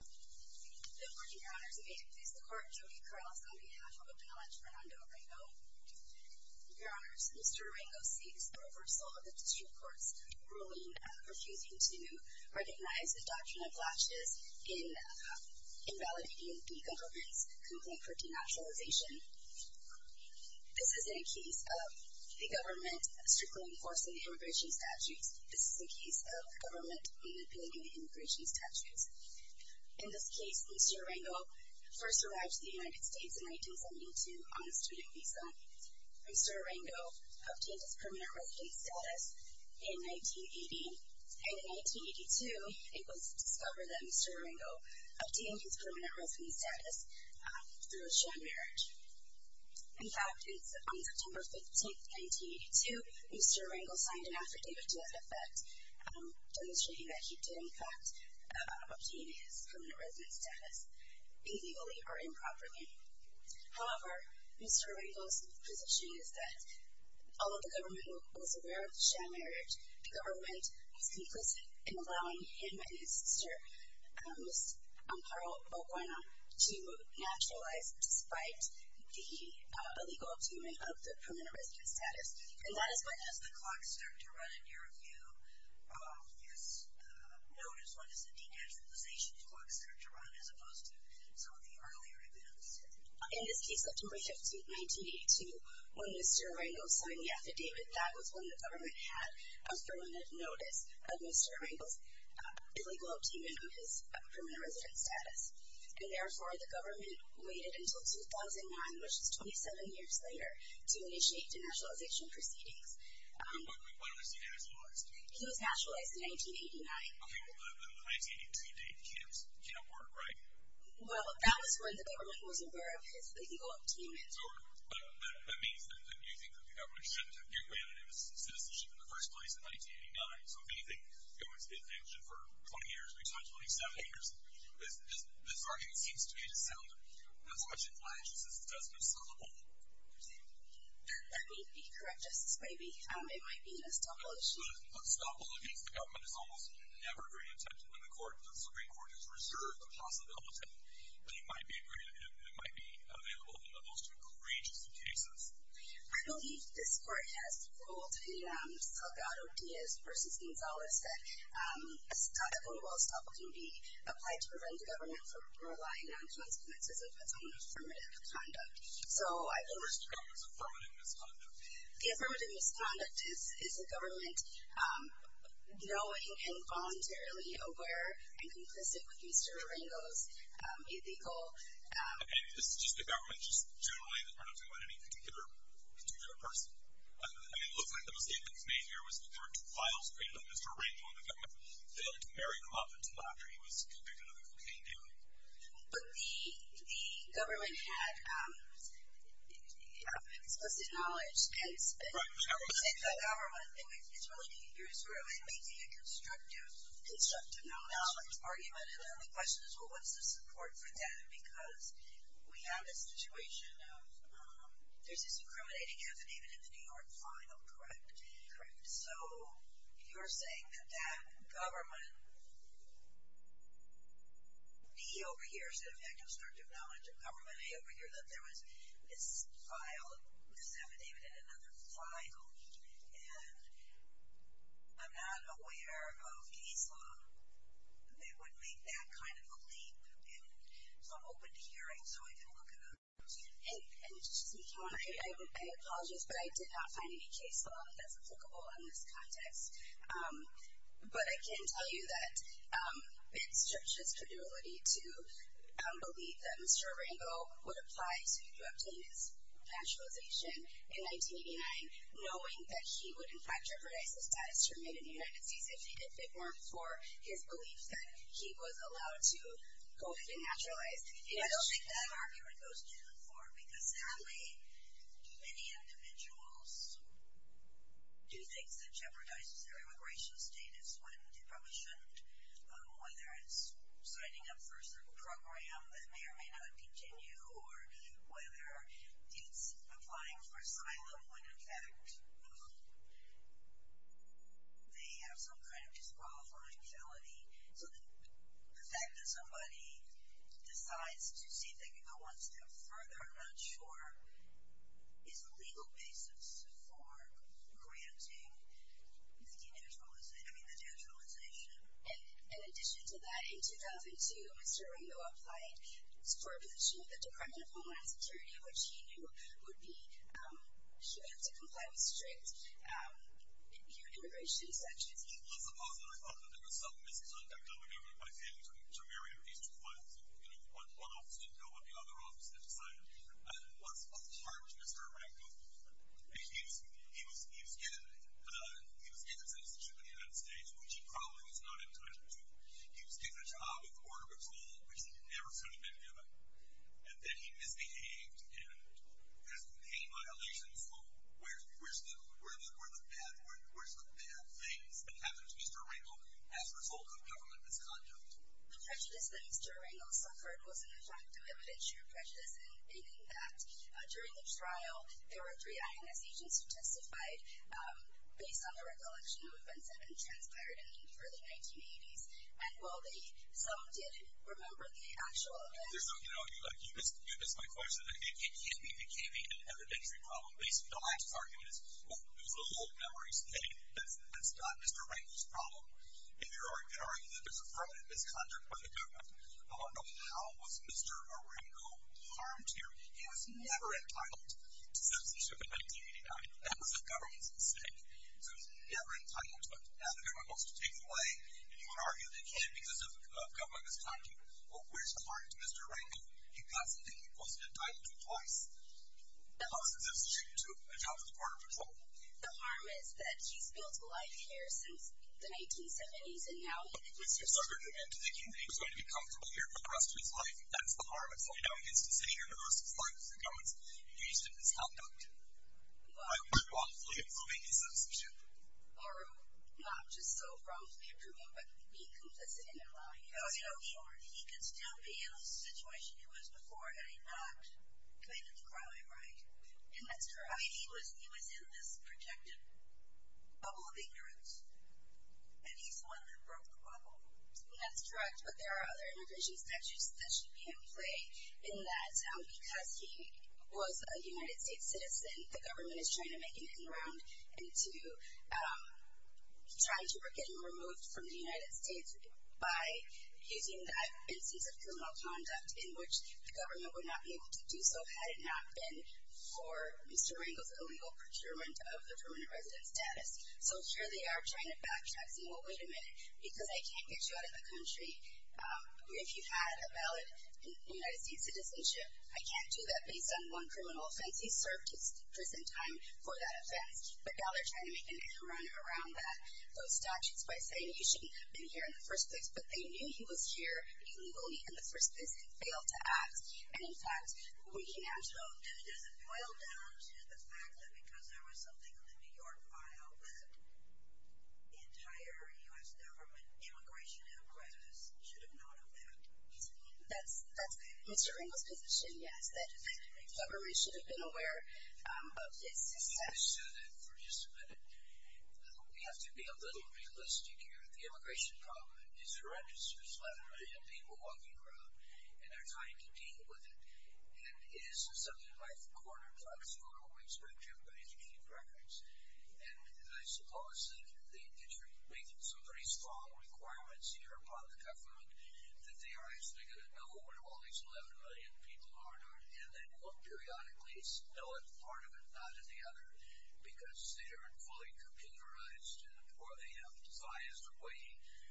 Good morning, your honors. May it please the court, Jody Carlson on behalf of Appellant Fernando Arango. Your honors, Mr. Arango seeks the reversal of the district court's ruling refusing to recognize the doctrine of latches in invalidating the government's complaint for denaturalization. This isn't a case of the government strictly enforcing the immigration statutes. This is a case of the government manipulating the immigration statutes. In this case, Mr. Arango first arrived to the United States in 1972 on a student visa. Mr. Arango obtained his permanent residence status in 1980. And in 1982, it was discovered that Mr. Arango obtained his permanent residence status through a sham marriage. In fact, it's on September 15, 1982, Mr. Arango signed an affidavit to that effect demonstrating that he did in fact obtain his permanent residence status illegally or improperly. However, Mr. Arango's position is that although the government was aware of the sham marriage, the government was complicit in allowing him and his sister, Ms. Amparo O'Guina, to naturalize despite the illegal obtainment of the permanent residence status. And that is what has the clock start to run in your view? Yes, notice, what is the denaturalization the clock start to run as opposed to some of the earlier events? In this case, September 15, 1982, when Mr. Arango signed the affidavit, that was when the government had a permanent notice of Mr. Arango's illegal obtainment of his permanent residence status. And therefore, the government waited until 2009, which is 27 years later, to initiate denaturalization proceedings. When was he naturalized? He was naturalized in 1989. Okay, but the 1982 date can't work, right? Well, that was when the government was aware of his illegal obtainment. So that means that you think that the government shouldn't have granted him citizenship in the first place in 1989. So if anything, the government stayed in the election for 20 years, or you can say 27 years. This argument seems to me to sound as much inflexious as it does conceivable. That may be correct, Justice Braby. It might be an estoppel issue. An estoppel against the government is almost never very attempted in the court. The Supreme Court has reserved the possibility that it might be available in the most courageous of cases. I believe this court has ruled in Salgado Diaz v. Gonzalez that a votable estoppel can be applied to prevent the government from relying on consequences of its own affirmative conduct. So I believe... What's the government's affirmative misconduct? The affirmative misconduct is the government knowing and voluntarily aware and complicit with Mr. Arango's illegal... And this is just the government, just generally, not talking about any particular person. I mean, it looks like the mistake that was made here was that there were two files created on Mr. Arango and the government filled very often after he was convicted of a cocaine deal. But the government had explicit knowledge. It's been said that the government is really making a constructive knowledge argument. And then the question is, well, what's the support for that? Because we have this situation of there's this incriminating affidavit in the New York final, correct? Correct. So you're saying that that government, me over here, instead of having constructive knowledge, government me over here, that there was this affidavit in another final. And I'm not aware of case law that would make that kind of a leap. So I'm open to hearing, so I can look it up. And just to make you aware, I apologize, but I did not find any case law that's applicable in this context. But I can tell you that it stretches credulity to believe that Mr. Arango would apply to obtain his naturalization in 1989, knowing that he would, in fact, jeopardize his status to remain in the United States if he did big work for his beliefs that he was allowed to go ahead and naturalize. I don't think that argument goes too far, because certainly many individuals do things that jeopardize their immigration status when they probably shouldn't, whether it's signing up for a certain program that may or may not continue, or whether it's applying for asylum when, in fact, they have some kind of disqualifying felony. So the fact that somebody decides to see if they can go one step further, I'm not sure, is a legal basis for granting the naturalization. In addition to that, in 2002, Mr. Arango applied for a position with the Department of Homeland Security, which he knew he would have to comply with strict immigration sanctions. Well, as a positive, I thought that there was some misconduct on the part of my family to marry over these two files. One office didn't know what the other office had decided, and it was hard for Mr. Arango. He was given citizenship in the United States, which he probably was not entitled to. He was given a job with Border Patrol, which he never should have been given. And then he misbehaved and has made violations. Where's the bad things that happened to Mr. Arango as a result of government misconduct? The prejudice that Mr. Arango suffered was an effective evidence-sharing prejudice, meaning that during the trial, there were three INS agents who testified based on the recollection of events that had transpired in the early 1980s. And while some did remember the actual events. You missed my question. It can't be an evidentiary problem. The last argument is, well, those are old memories. That's not Mr. Arango's problem. In your argument, there's a permanent misconduct by the government. I want to know, how was Mr. Arango harmed here? He was never entitled to citizenship in 1989. That was the government's mistake. So he was never entitled to it. Now the government wants to take it away. And you want to argue that he, because of government misconduct, well, where's the harm to Mr. Arango? He got something he wasn't entitled to twice. How is his citizenship due to a job with Border Patrol? The harm is that he's built a life here since the 1970s, and to think he was going to be comfortable here for the rest of his life, that's the harm. It's only now he gets to sit here for the rest of his life because the government's used his misconduct. By unlawfully approving his citizenship. Or not just so wrongfully approving, but being complicit in a crime. He could still be in a situation he was before had he not committed the crime, right? That's correct. He was in this projected bubble of ignorance, and he's the one that broke the bubble. That's correct. But there are other immigration statutes that should be in play in that because he was a United States citizen, the government is trying to make him come around and to try to get him removed from the United States by using that instance of criminal conduct in which the government would not be able to do so had it not been for Mr. Arango's illegal procurement of the permanent resident status. So here they are trying to backtrack saying, well, wait a minute, because I can't get you out of the country. If you had a valid United States citizenship, I can't do that based on one criminal offense. He served his prison time for that offense. But now they're trying to make him run around those statutes by saying you shouldn't have been here in the first place. But they knew he was here illegally in the first place and failed to act. And in fact, we can now show that it doesn't boil down to the fact that because there was something in the New York file that the entire U.S. government immigration apparatus should have known of that. That's Mr. Arango's position, yes, that the government should have been aware of this. Let me just say that for just a minute. We have to be a little realistic here. The immigration problem is horrendous. There's 11 million people walking around and they're trying to deal with it. And it is something I've cornered as far as what we expect from the education records. And I suppose that you're making some pretty strong requirements here upon the government that they are actually going to know what all these 11 million people are doing. And they will periodically know it, part of it, not the other, because they aren't fully computerized or they have devised a way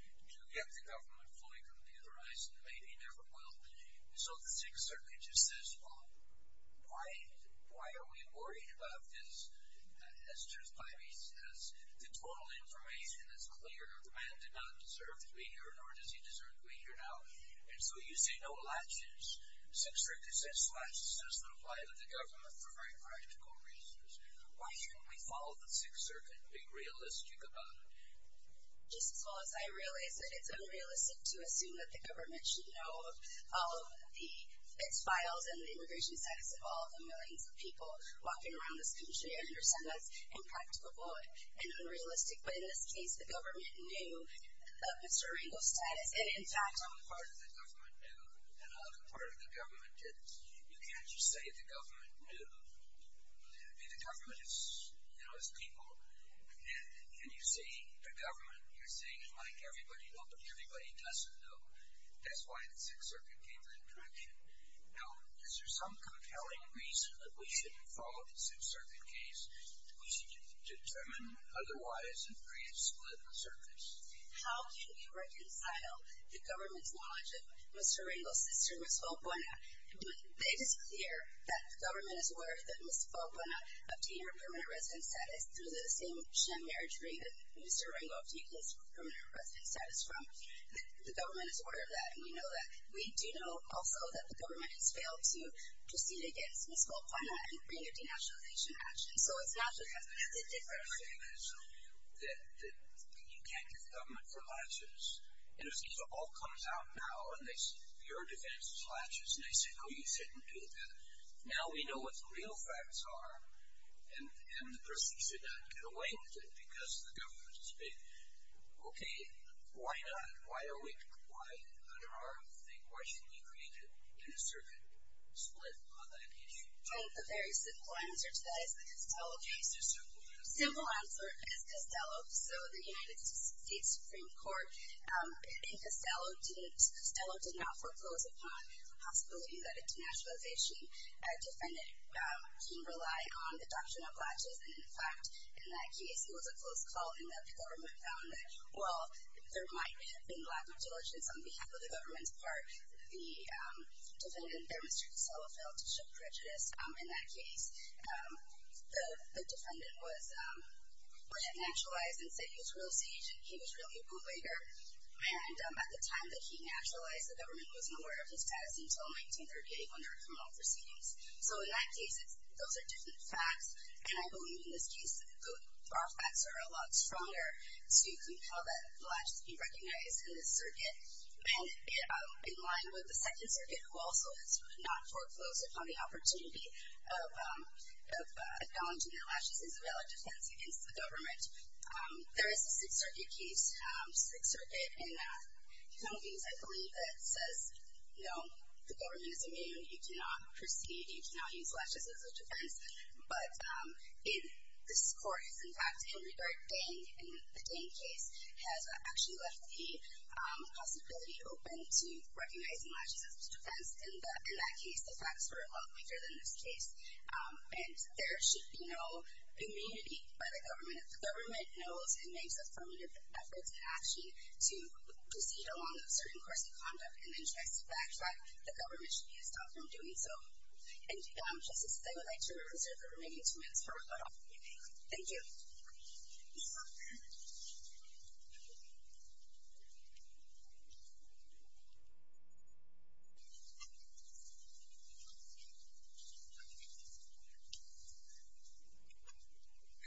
to get the government fully computerized and maybe never will. So the Sixth Circuit just says, well, why are we worried about this? As Truce Pivey says, the total information is clear. The man did not deserve to be here, nor does he deserve to be here now. And so you say no latches. The Sixth Circuit says latches just don't apply to the government for very practical reasons. Why shouldn't we follow the Sixth Circuit and be realistic about it? Just as well as I realize that it's unrealistic to assume that the government should know all of the FITs files and the immigration status of all the millions of people walking around this country. I understand that's impracticable and unrealistic. But in this case, the government knew Mr. Rangel's status. And, in fact, part of the government knew, and another part of the government didn't. You can't just say the government knew. I mean, the government is people. And you're saying the government, you're saying it's like everybody knows, but everybody doesn't know. That's why the Sixth Circuit gave that direction. Now, is there some compelling reason that we shouldn't follow the Sixth Circuit case? We should determine otherwise and create a split on the surface. How can we reconcile the government's knowledge of Mr. Rangel's sister, Ms. Opona, when they declare that the government is aware that Ms. Opona obtained her permanent residence status through the same sham marriage ring that Mr. Rangel obtained his permanent residence status from? The government is aware of that. And we do know, also, that the government has failed to proceed against Ms. Opona in bringing a denationalization action. So it's natural to have a method different. The thing is that you can't get the government for latches. And if it all comes out now and your defense is latches and they say, oh, you shouldn't do that, now we know what the real facts are and the person should not get away with it because the government has failed. Okay, why not? Why are we under arms? Why shouldn't we create a Sixth Circuit split on that issue? I think the very simple answer to that is the Costello case. It's a simple answer. The simple answer is Costello. So the United States Supreme Court in Costello did not foreclose upon the possibility that a denationalization defendant can rely on the doctrine of latches. And, in fact, in that case, it was a close call in that the government found that, well, there might have been lack of diligence on behalf of the government's part. The defendant there, Mr. Costello, failed to show prejudice in that case. The defendant was denationalized and said he was real sage and he was really a bootlegger. And at the time that he denationalized, the government wasn't aware of his status until 1938 when there were criminal proceedings. So in that case, those are different facts, and I believe in this case, our facts are a lot stronger. So you can tell that the latches can be recognized in this circuit. And in line with the Second Circuit, who also has not foreclosed upon the opportunity of acknowledging that latches is a valid defense against the government, there is a Sixth Circuit case, Sixth Circuit, and one of the things I believe that says, no, the government is immune. You cannot proceed. You cannot use latches as a defense. But this court is, in fact, in regard. Deng, in the Deng case, has actually left the possibility open to recognizing latches as a defense. In that case, the facts were a lot weaker than this case. And there should be no immunity by the government if the government knows and makes affirmative efforts and action to proceed along a certain course of conduct and then tries to backtrack. The government should be stopped from doing so. And, Your Honor, Justice, I would like to reserve the remaining two minutes for rebuttal. Thank you. Good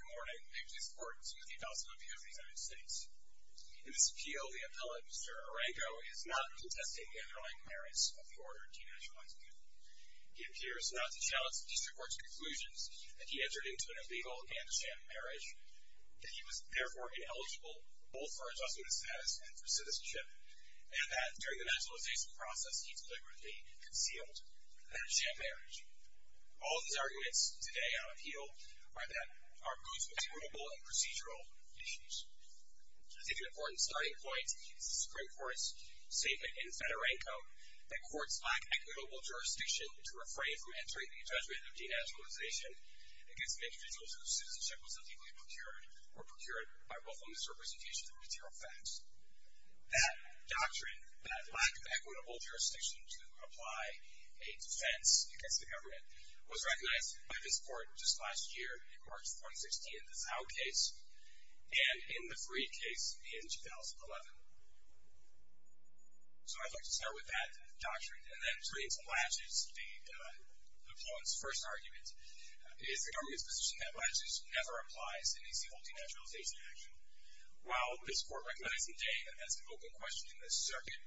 morning. I'm Justice Bortenson with the Adoption Appeal of the United States. In this appeal, the appellate, Mr. Arango, is not contesting underlying merits of the order denationalizing him. He appears not to challenge the district court's conclusions that he entered into an illegal and a sham marriage, that he was, therefore, ineligible both for adjustment of status and for citizenship, and that, during the nationalization process, he deliberately concealed a sham marriage. All of these arguments today on appeal are those with actionable and procedural issues. I think an important starting point is the Supreme Court's statement in Fed Arango that courts lack equitable jurisdiction to refrain from entering the adjustment of denationalization against individuals whose citizenship was illegally procured or procured by willful misrepresentation of material facts. That doctrine, that lack of equitable jurisdiction to apply a defense against the government, was recognized by this court just last year, in March 2016, the Zao case, and in the Fareed case in 2011. So I'd like to start with that doctrine, and then turn it to Blatches, the opponent's first argument. It is the government's position that Blatches never applies in a single denationalization action. While this court recognized him today as an open question in this circuit,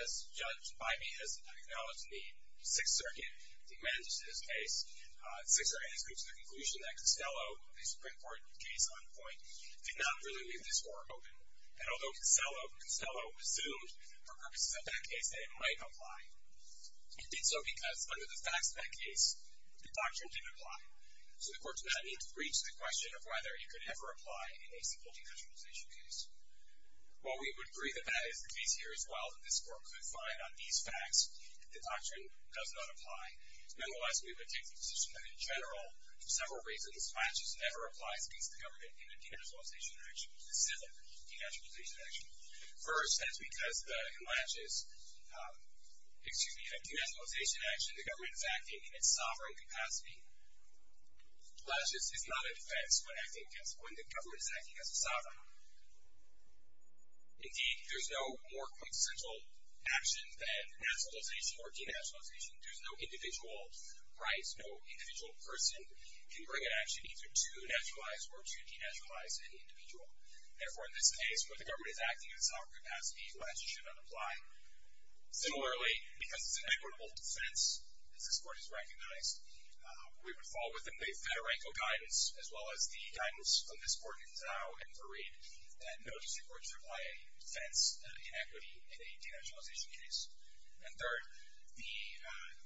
as judged by me, as acknowledged in the Sixth Circuit, the amendment to this case, the Sixth Circuit has come to the conclusion that Costello, the Supreme Court case on point, did not really leave this court open. And although Costello assumed, for purposes of that case, that it might apply, he did so because, under the facts of that case, the doctrine didn't apply. So the court did not need to reach the question of whether it could ever apply in a single denationalization case. While we would agree that that is the case here as well, that this court could find on these facts that the doctrine does not apply, nonetheless, we would take the position that in general, for several reasons, Blatches never applies against the government in a denationalization action, in a single denationalization action. First, that is because in Blatches, excuse me, in a denationalization action, the government is acting in its sovereign capacity. Blatches is not a defense when acting against, when the government is acting as a sovereign. Indeed, there's no more quintessential action than denationalization or denationalization. There's no individual rights. No individual person can bring an action either to naturalize or to denaturalize an individual. Therefore, in this case, when the government is acting in its sovereign capacity, Blatches should not apply. Similarly, because it's an equitable defense, as this court has recognized, we would fall within the Federenco guidance, as well as the guidance of this court in Zao and Farid, that no district court should apply a defense of inequity in a denationalization case. And third, the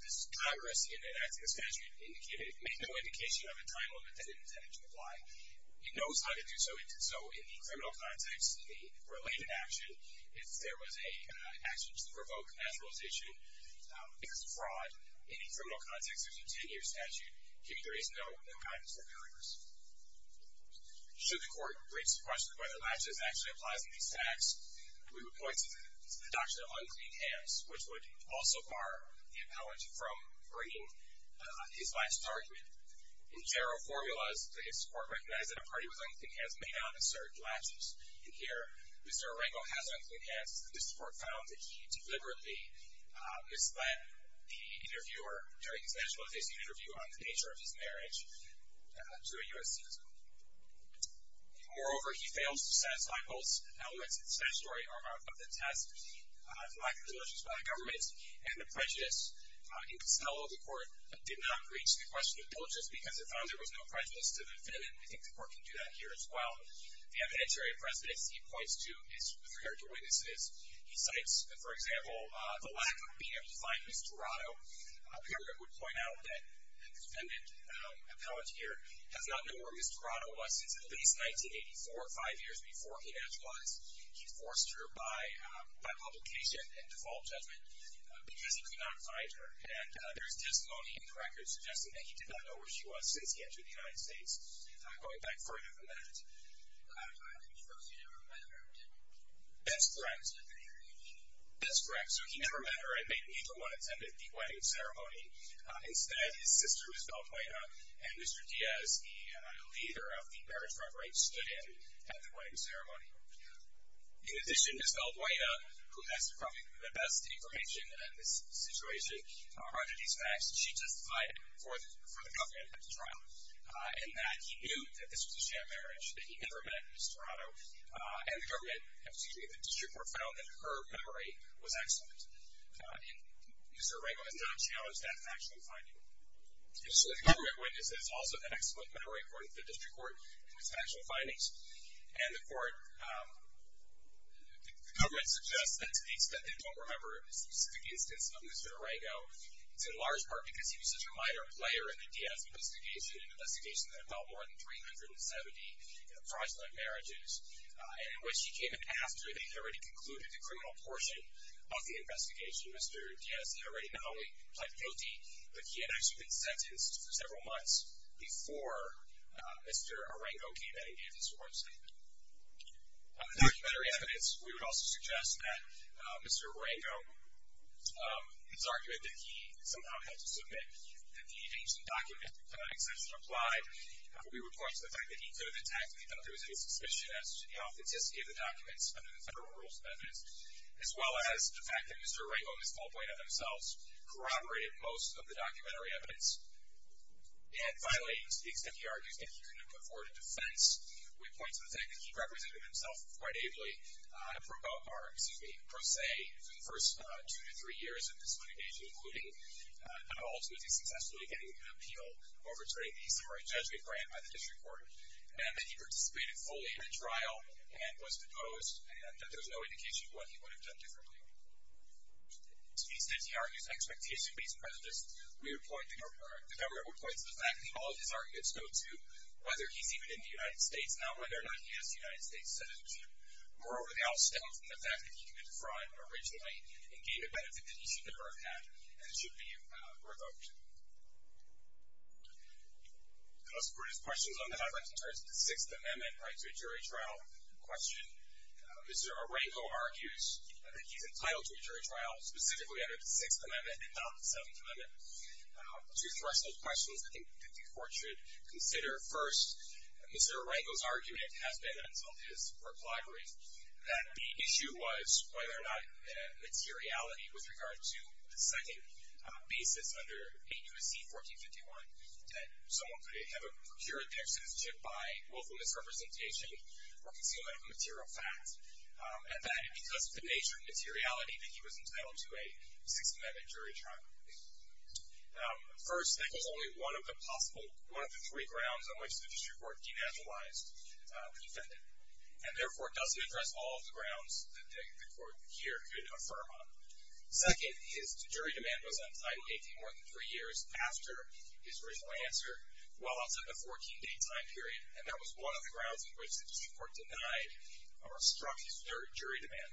time risk in enacting a statute made no indication of a time limit that it intended to apply. It knows how to do so. So in the criminal context, the related action, if there was an action to provoke naturalization because of fraud, in the criminal context, there's a 10-year statute. Here, there is no guidance or barriers. Should the court raise the question of whether Blatches actually applies in these facts, we would point to the deduction of unclean hands, which would also bar the appellant from bringing his Blatches argument. In general formulas, this court recognized that a party with unclean hands may not assert Blatches. And here, Mr. Arengo has unclean hands. This court found that he deliberately misled the interviewer during his nationalization interview on the nature of his marriage to a U.S. citizen. Moreover, he fails to satisfy both elements of the statutory arm of the test, the lack of diligence by the government, and the prejudice in Castello. The court did not reach the question of diligence because it found there was no prejudice to the defendant. I think the court can do that here as well. The evidentiary precedence, he points to, is referred to witnesses. He cites, for example, the lack of being able to find Ms. Toronto. Here, it would point out that the defendant, appellant here, has not known where Ms. Toronto was since at least 1984, five years before he nationalized. He forced her by publication and default judgment because he could not find her. And there's testimony in the records suggesting that he did not know where she was since he entered the United States. I'm going back further than that. That's correct. That's correct. So he never met her and neither one attended the wedding ceremony. Instead, his sister was beltwayed up, and Mr. Diaz, the leader of the marriage club, right stood in at the wedding ceremony. In addition, Ms. Beltwaya, who has probably the best information in this situation, argued these facts. She testified for the government at the trial in that he knew that this was a sham marriage, that he never met Ms. Toronto, and the district court found that her memory was excellent. And Mr. Arrego has not challenged that factually finding. So the government witnesses also had excellent memory, according to the district court, in its factual findings. And the court... The government suggests that to the extent they don't remember specific instances of Mr. Arrego, it's in large part because he was such a minor player in the Diaz investigation, an investigation that involved more than 370 fraudulent marriages, in which he came in after they had already concluded the criminal portion of the investigation. Mr. Diaz had already not only pled guilty, but he had actually been sentenced for several months before Mr. Arrego came in and did his sworn statement. On the documentary evidence, we would also suggest that Mr. Arrego, his argument that he somehow had to submit that the ancient document of an exemption applied would be reported to the fact that he could have attacked without there was any suspicion as to the authenticity of the documents under the federal rules of evidence, as well as the fact that Mr. Arrego and Ms. Beltwaya themselves corroborated most of the documentary evidence. And finally, to the extent he argues that he couldn't have put forward a defense, we point to the fact that he represented himself quite ably for about our, excuse me, pro se for the first two to three years of this litigation, including not all, so as he successfully getting an appeal overturning the summary judgment grant by the district court, and that he participated fully in the trial and was deposed, and that there's no indication of what he would have done differently. To the extent he argues expectation-based prejudice, we would point, the government would point to the fact that all of his arguments go to whether he's even in the United States now, whether or not he is a United States citizen. Moreover, they all stem from the fact that he committed fraud originally and gave a benefit that he should never have had, and it should be revoked. I'll support his questions on the highlights in terms of the Sixth Amendment right to a jury trial question. Mr. Arango argues that he's entitled to a jury trial specifically under the Sixth Amendment and not the Seventh Amendment. Two threshold questions I think the court should consider. First, Mr. Arango's argument has been, and it's on his work library, that the issue was whether or not materiality with regard to the second basis under 8 U.S.C. 1451, that someone could have procured their citizenship by willful misrepresentation or concealment of material facts, and that it was the nature of materiality that he was entitled to a Sixth Amendment jury trial. First, that was only one of the three grounds on which the district court denaturalized the defendant, and therefore doesn't address all of the grounds that the court here could affirm on. Second, his jury demand was entitled 18 more than three years after his original answer, well up to the 14-day time period, and that was one of the grounds on which the district court denied or struck his third jury demand,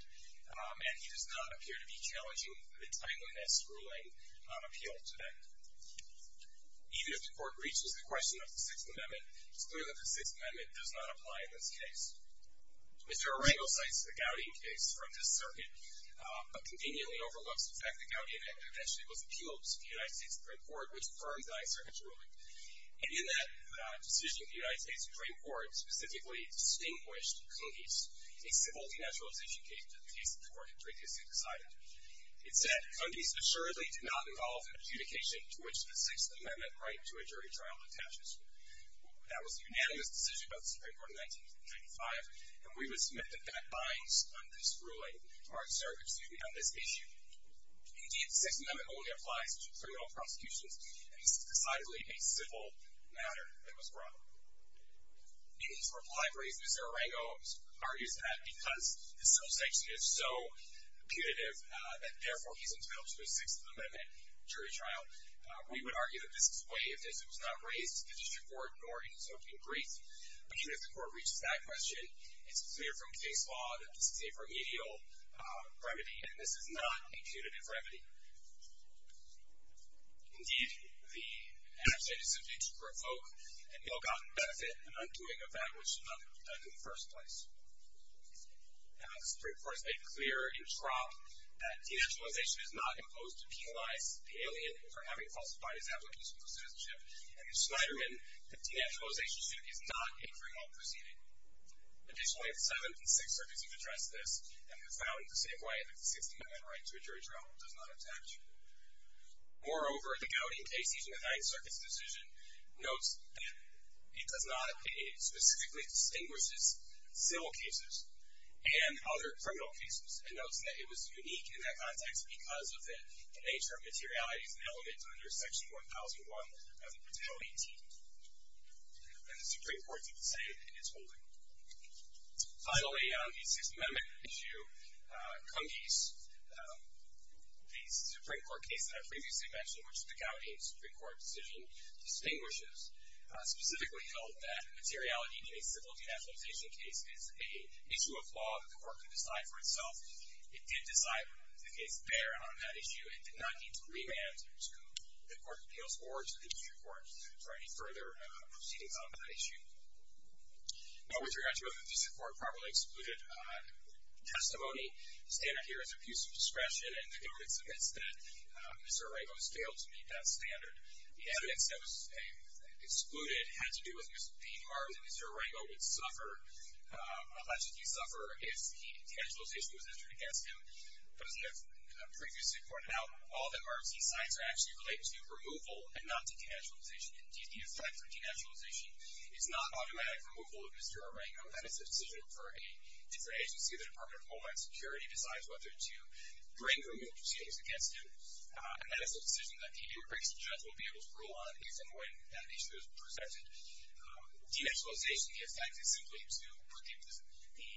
and he does not appear to be challenging the timeliness ruling on appeal to that. Even if the court reaches the question of the Sixth Amendment, it's clear that the Sixth Amendment does not apply in this case. Mr. Arango cites the Gowdy case from this circuit, but conveniently overlooks the fact that Gowdy eventually was appealed to the United States Supreme Court, which affirmed the high circuit's ruling. And in that decision, the United States Supreme Court specifically distinguished Cundis, a civil denaturalization case that the case of the court had previously decided. It said, Cundis assuredly did not involve an adjudication to which the Sixth Amendment right to a jury trial attaches. That was a unanimous decision by the Supreme Court in 1995, and we would submit that that binds on this ruling. Mark, sir, excuse me, on this issue. Indeed, the Sixth Amendment only applies to criminal prosecutions, and this is decidedly a civil matter that was brought up. In his reply brief, Mr. Arango argues that because this subsection is so punitive that therefore he's entitled to a Sixth Amendment jury trial, we would argue that this is waived if it was not raised to the district court nor in his opening brief. Even if the court reaches that question, it's clear from case law that this is a remedial remedy and this is not a punitive remedy. Indeed, the act is subject to provoke an ill-gotten benefit and undoing of that which should not have been done in the first place. The Supreme Court has made clear in Trump that denaturalization is not imposed to penalize the alien for having falsified his application for citizenship, and in Schneiderman, the denaturalization suit is not a criminal proceeding. Additionally, the 7th and 6th circuits have addressed this and have found the same way that the Sixth Amendment right to a jury trial does not attach. Moreover, the Gowdy case using the 9th Circuit's decision notes that it specifically distinguishes civil cases and other criminal cases and notes that it was unique in that context because of the nature of materialities and elements under Section 1001 of the Penalty Team. And the Supreme Court did the same in its holding. Finally, on the Sixth Amendment issue, Cummese, the Supreme Court case that I previously mentioned, which the Gowdy Supreme Court decision distinguishes, specifically held that materiality in a civil denaturalization case is an issue of law that the Court could decide for itself. It did decide that the case bear on that issue. It did not need to remand to the Court of Appeals or to the District Court for any further proceedings on that issue. Now, with regard to whether the District Court properly excluded testimony, the standard here is abuse of discretion, and the government submits that Mr. Araigo has failed to meet that standard. The evidence that was excluded had to do with the harm that Mr. Araigo would allegedly suffer if denaturalization was entered against him. But as I have previously pointed out, all the RFC signs are actually related to removal and not denaturalization. Indeed, the effect of denaturalization is not automatic removal of Mr. Araigo. That is a decision for a different agency. The Department of Homeland Security decides whether to bring removal proceedings against him, and that is a decision that the increased judge will be able to rule on based on the way that the issue is presented. Denaturalization, the effect is simply to reduce the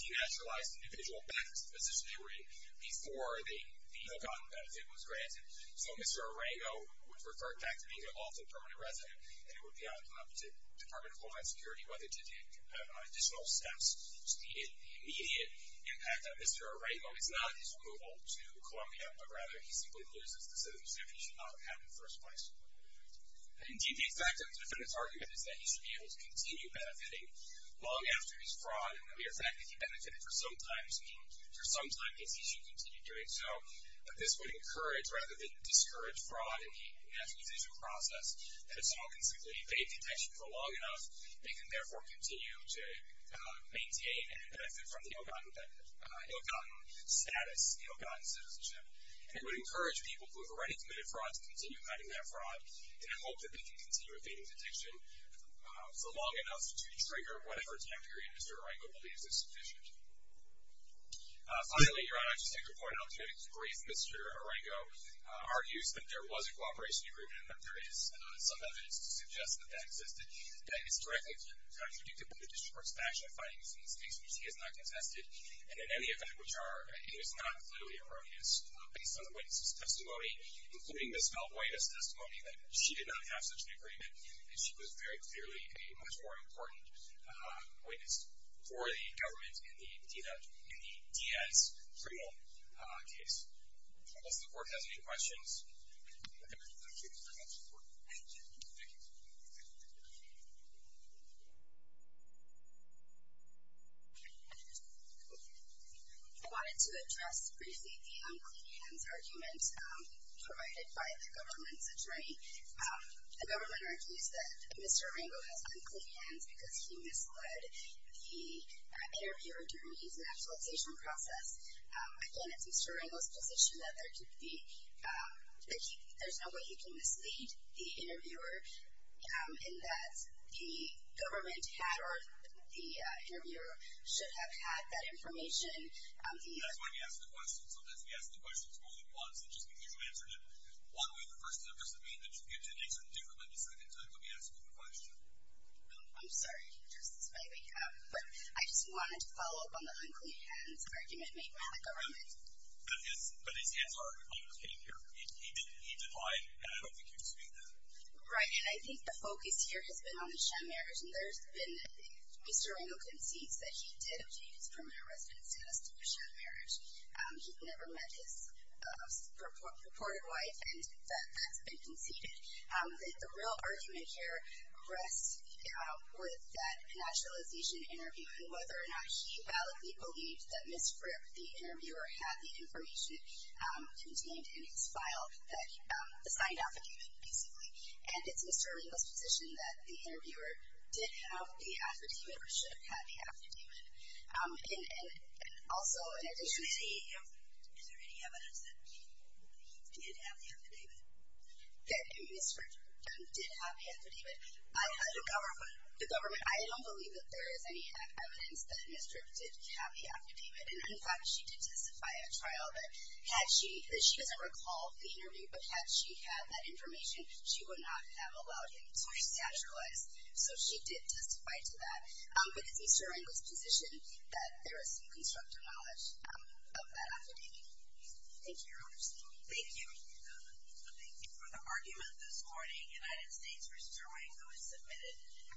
denaturalized individual back to the position they were in before the hook-on benefit was granted. So Mr. Araigo was referred back to being an alternate permanent resident, and it would be up to the Department of Homeland Security whether to take additional steps to speed up the immediate impact of Mr. Araigo. It's not his removal to Columbia, but rather he simply loses the citizenship he should not have in the first place. Indeed, the effect of the defendant's argument is that he should be able to continue benefiting long after his fraud, and the mere fact that he benefited for some time means he should continue doing so. But this would encourage, rather than discourage, fraud in the denaturalization process that if someone can simply evade detection for long enough, they can therefore continue to maintain and benefit from the ill-gotten status, the ill-gotten citizenship. And it would encourage people who have already committed fraud to continue fighting that fraud and hope that they can continue evading detection for long enough to trigger whatever time period Mr. Araigo believes is sufficient. Finally, Your Honor, I'd just like to point out that in his brief, Mr. Araigo argues that there was a cooperation agreement but there is some evidence to suggest that that existed, that it's directly contradictable to District Court's faction of finding these mistakes, which he has not contested, and in any event, which are, it is not clearly erroneous, based on the witness's testimony, including Ms. Valbuena's testimony that she did not have such an agreement and she was very clearly a much more important witness for the government in the Diaz criminal case. Does the Court have any questions? Thank you. I wanted to address briefly the unclean hands argument provided by the government's attorney. The government argues that Mr. Araigo has unclean hands because he misled the interviewer during his nationalization process. Again, it's Mr. Araigo's position that there's no way he can mislead the interviewer in that the government had or the interviewer should have had that information. That's why we ask the questions. Sometimes we ask the questions more than once and just because you answered it one way, the first time doesn't mean that you get to answer it differently the second time that we ask you a question. I'm sorry, Justice, if I wake you up. But I just wanted to follow up on the unclean hands argument made by the government. But his hands are unclean here. He denied, and I don't think you can speak to that. Right, and I think the focus here has been on the sham marriage, and there's been Mr. Araigo concedes that he did obtain his permanent residence status through a sham marriage. He'd never met his purported wife, and that's been conceded. The real argument here rests with that nationalization interview and whether or not he validly believed that Ms. Fripp, the interviewer, had the information contained in his file that assigned affidavit, basically. And it's Mr. Araigo's position that the interviewer did have the affidavit or should have had the affidavit. And also, in addition to... Is there any evidence that he did have the affidavit? That Ms. Fripp did have the affidavit? The government? The government. I don't believe that there is any evidence that Ms. Fripp did have the affidavit. And, in fact, she did testify at trial that she doesn't recall the interview, but had she had that information, she would not have allowed him to be staturalized. So she did testify to that. But it's Mr. Araigo's position that there is some constructive knowledge of that affidavit. Thank you. Thank you. Thank you for the argument this morning. United States v. Araigo is submitted.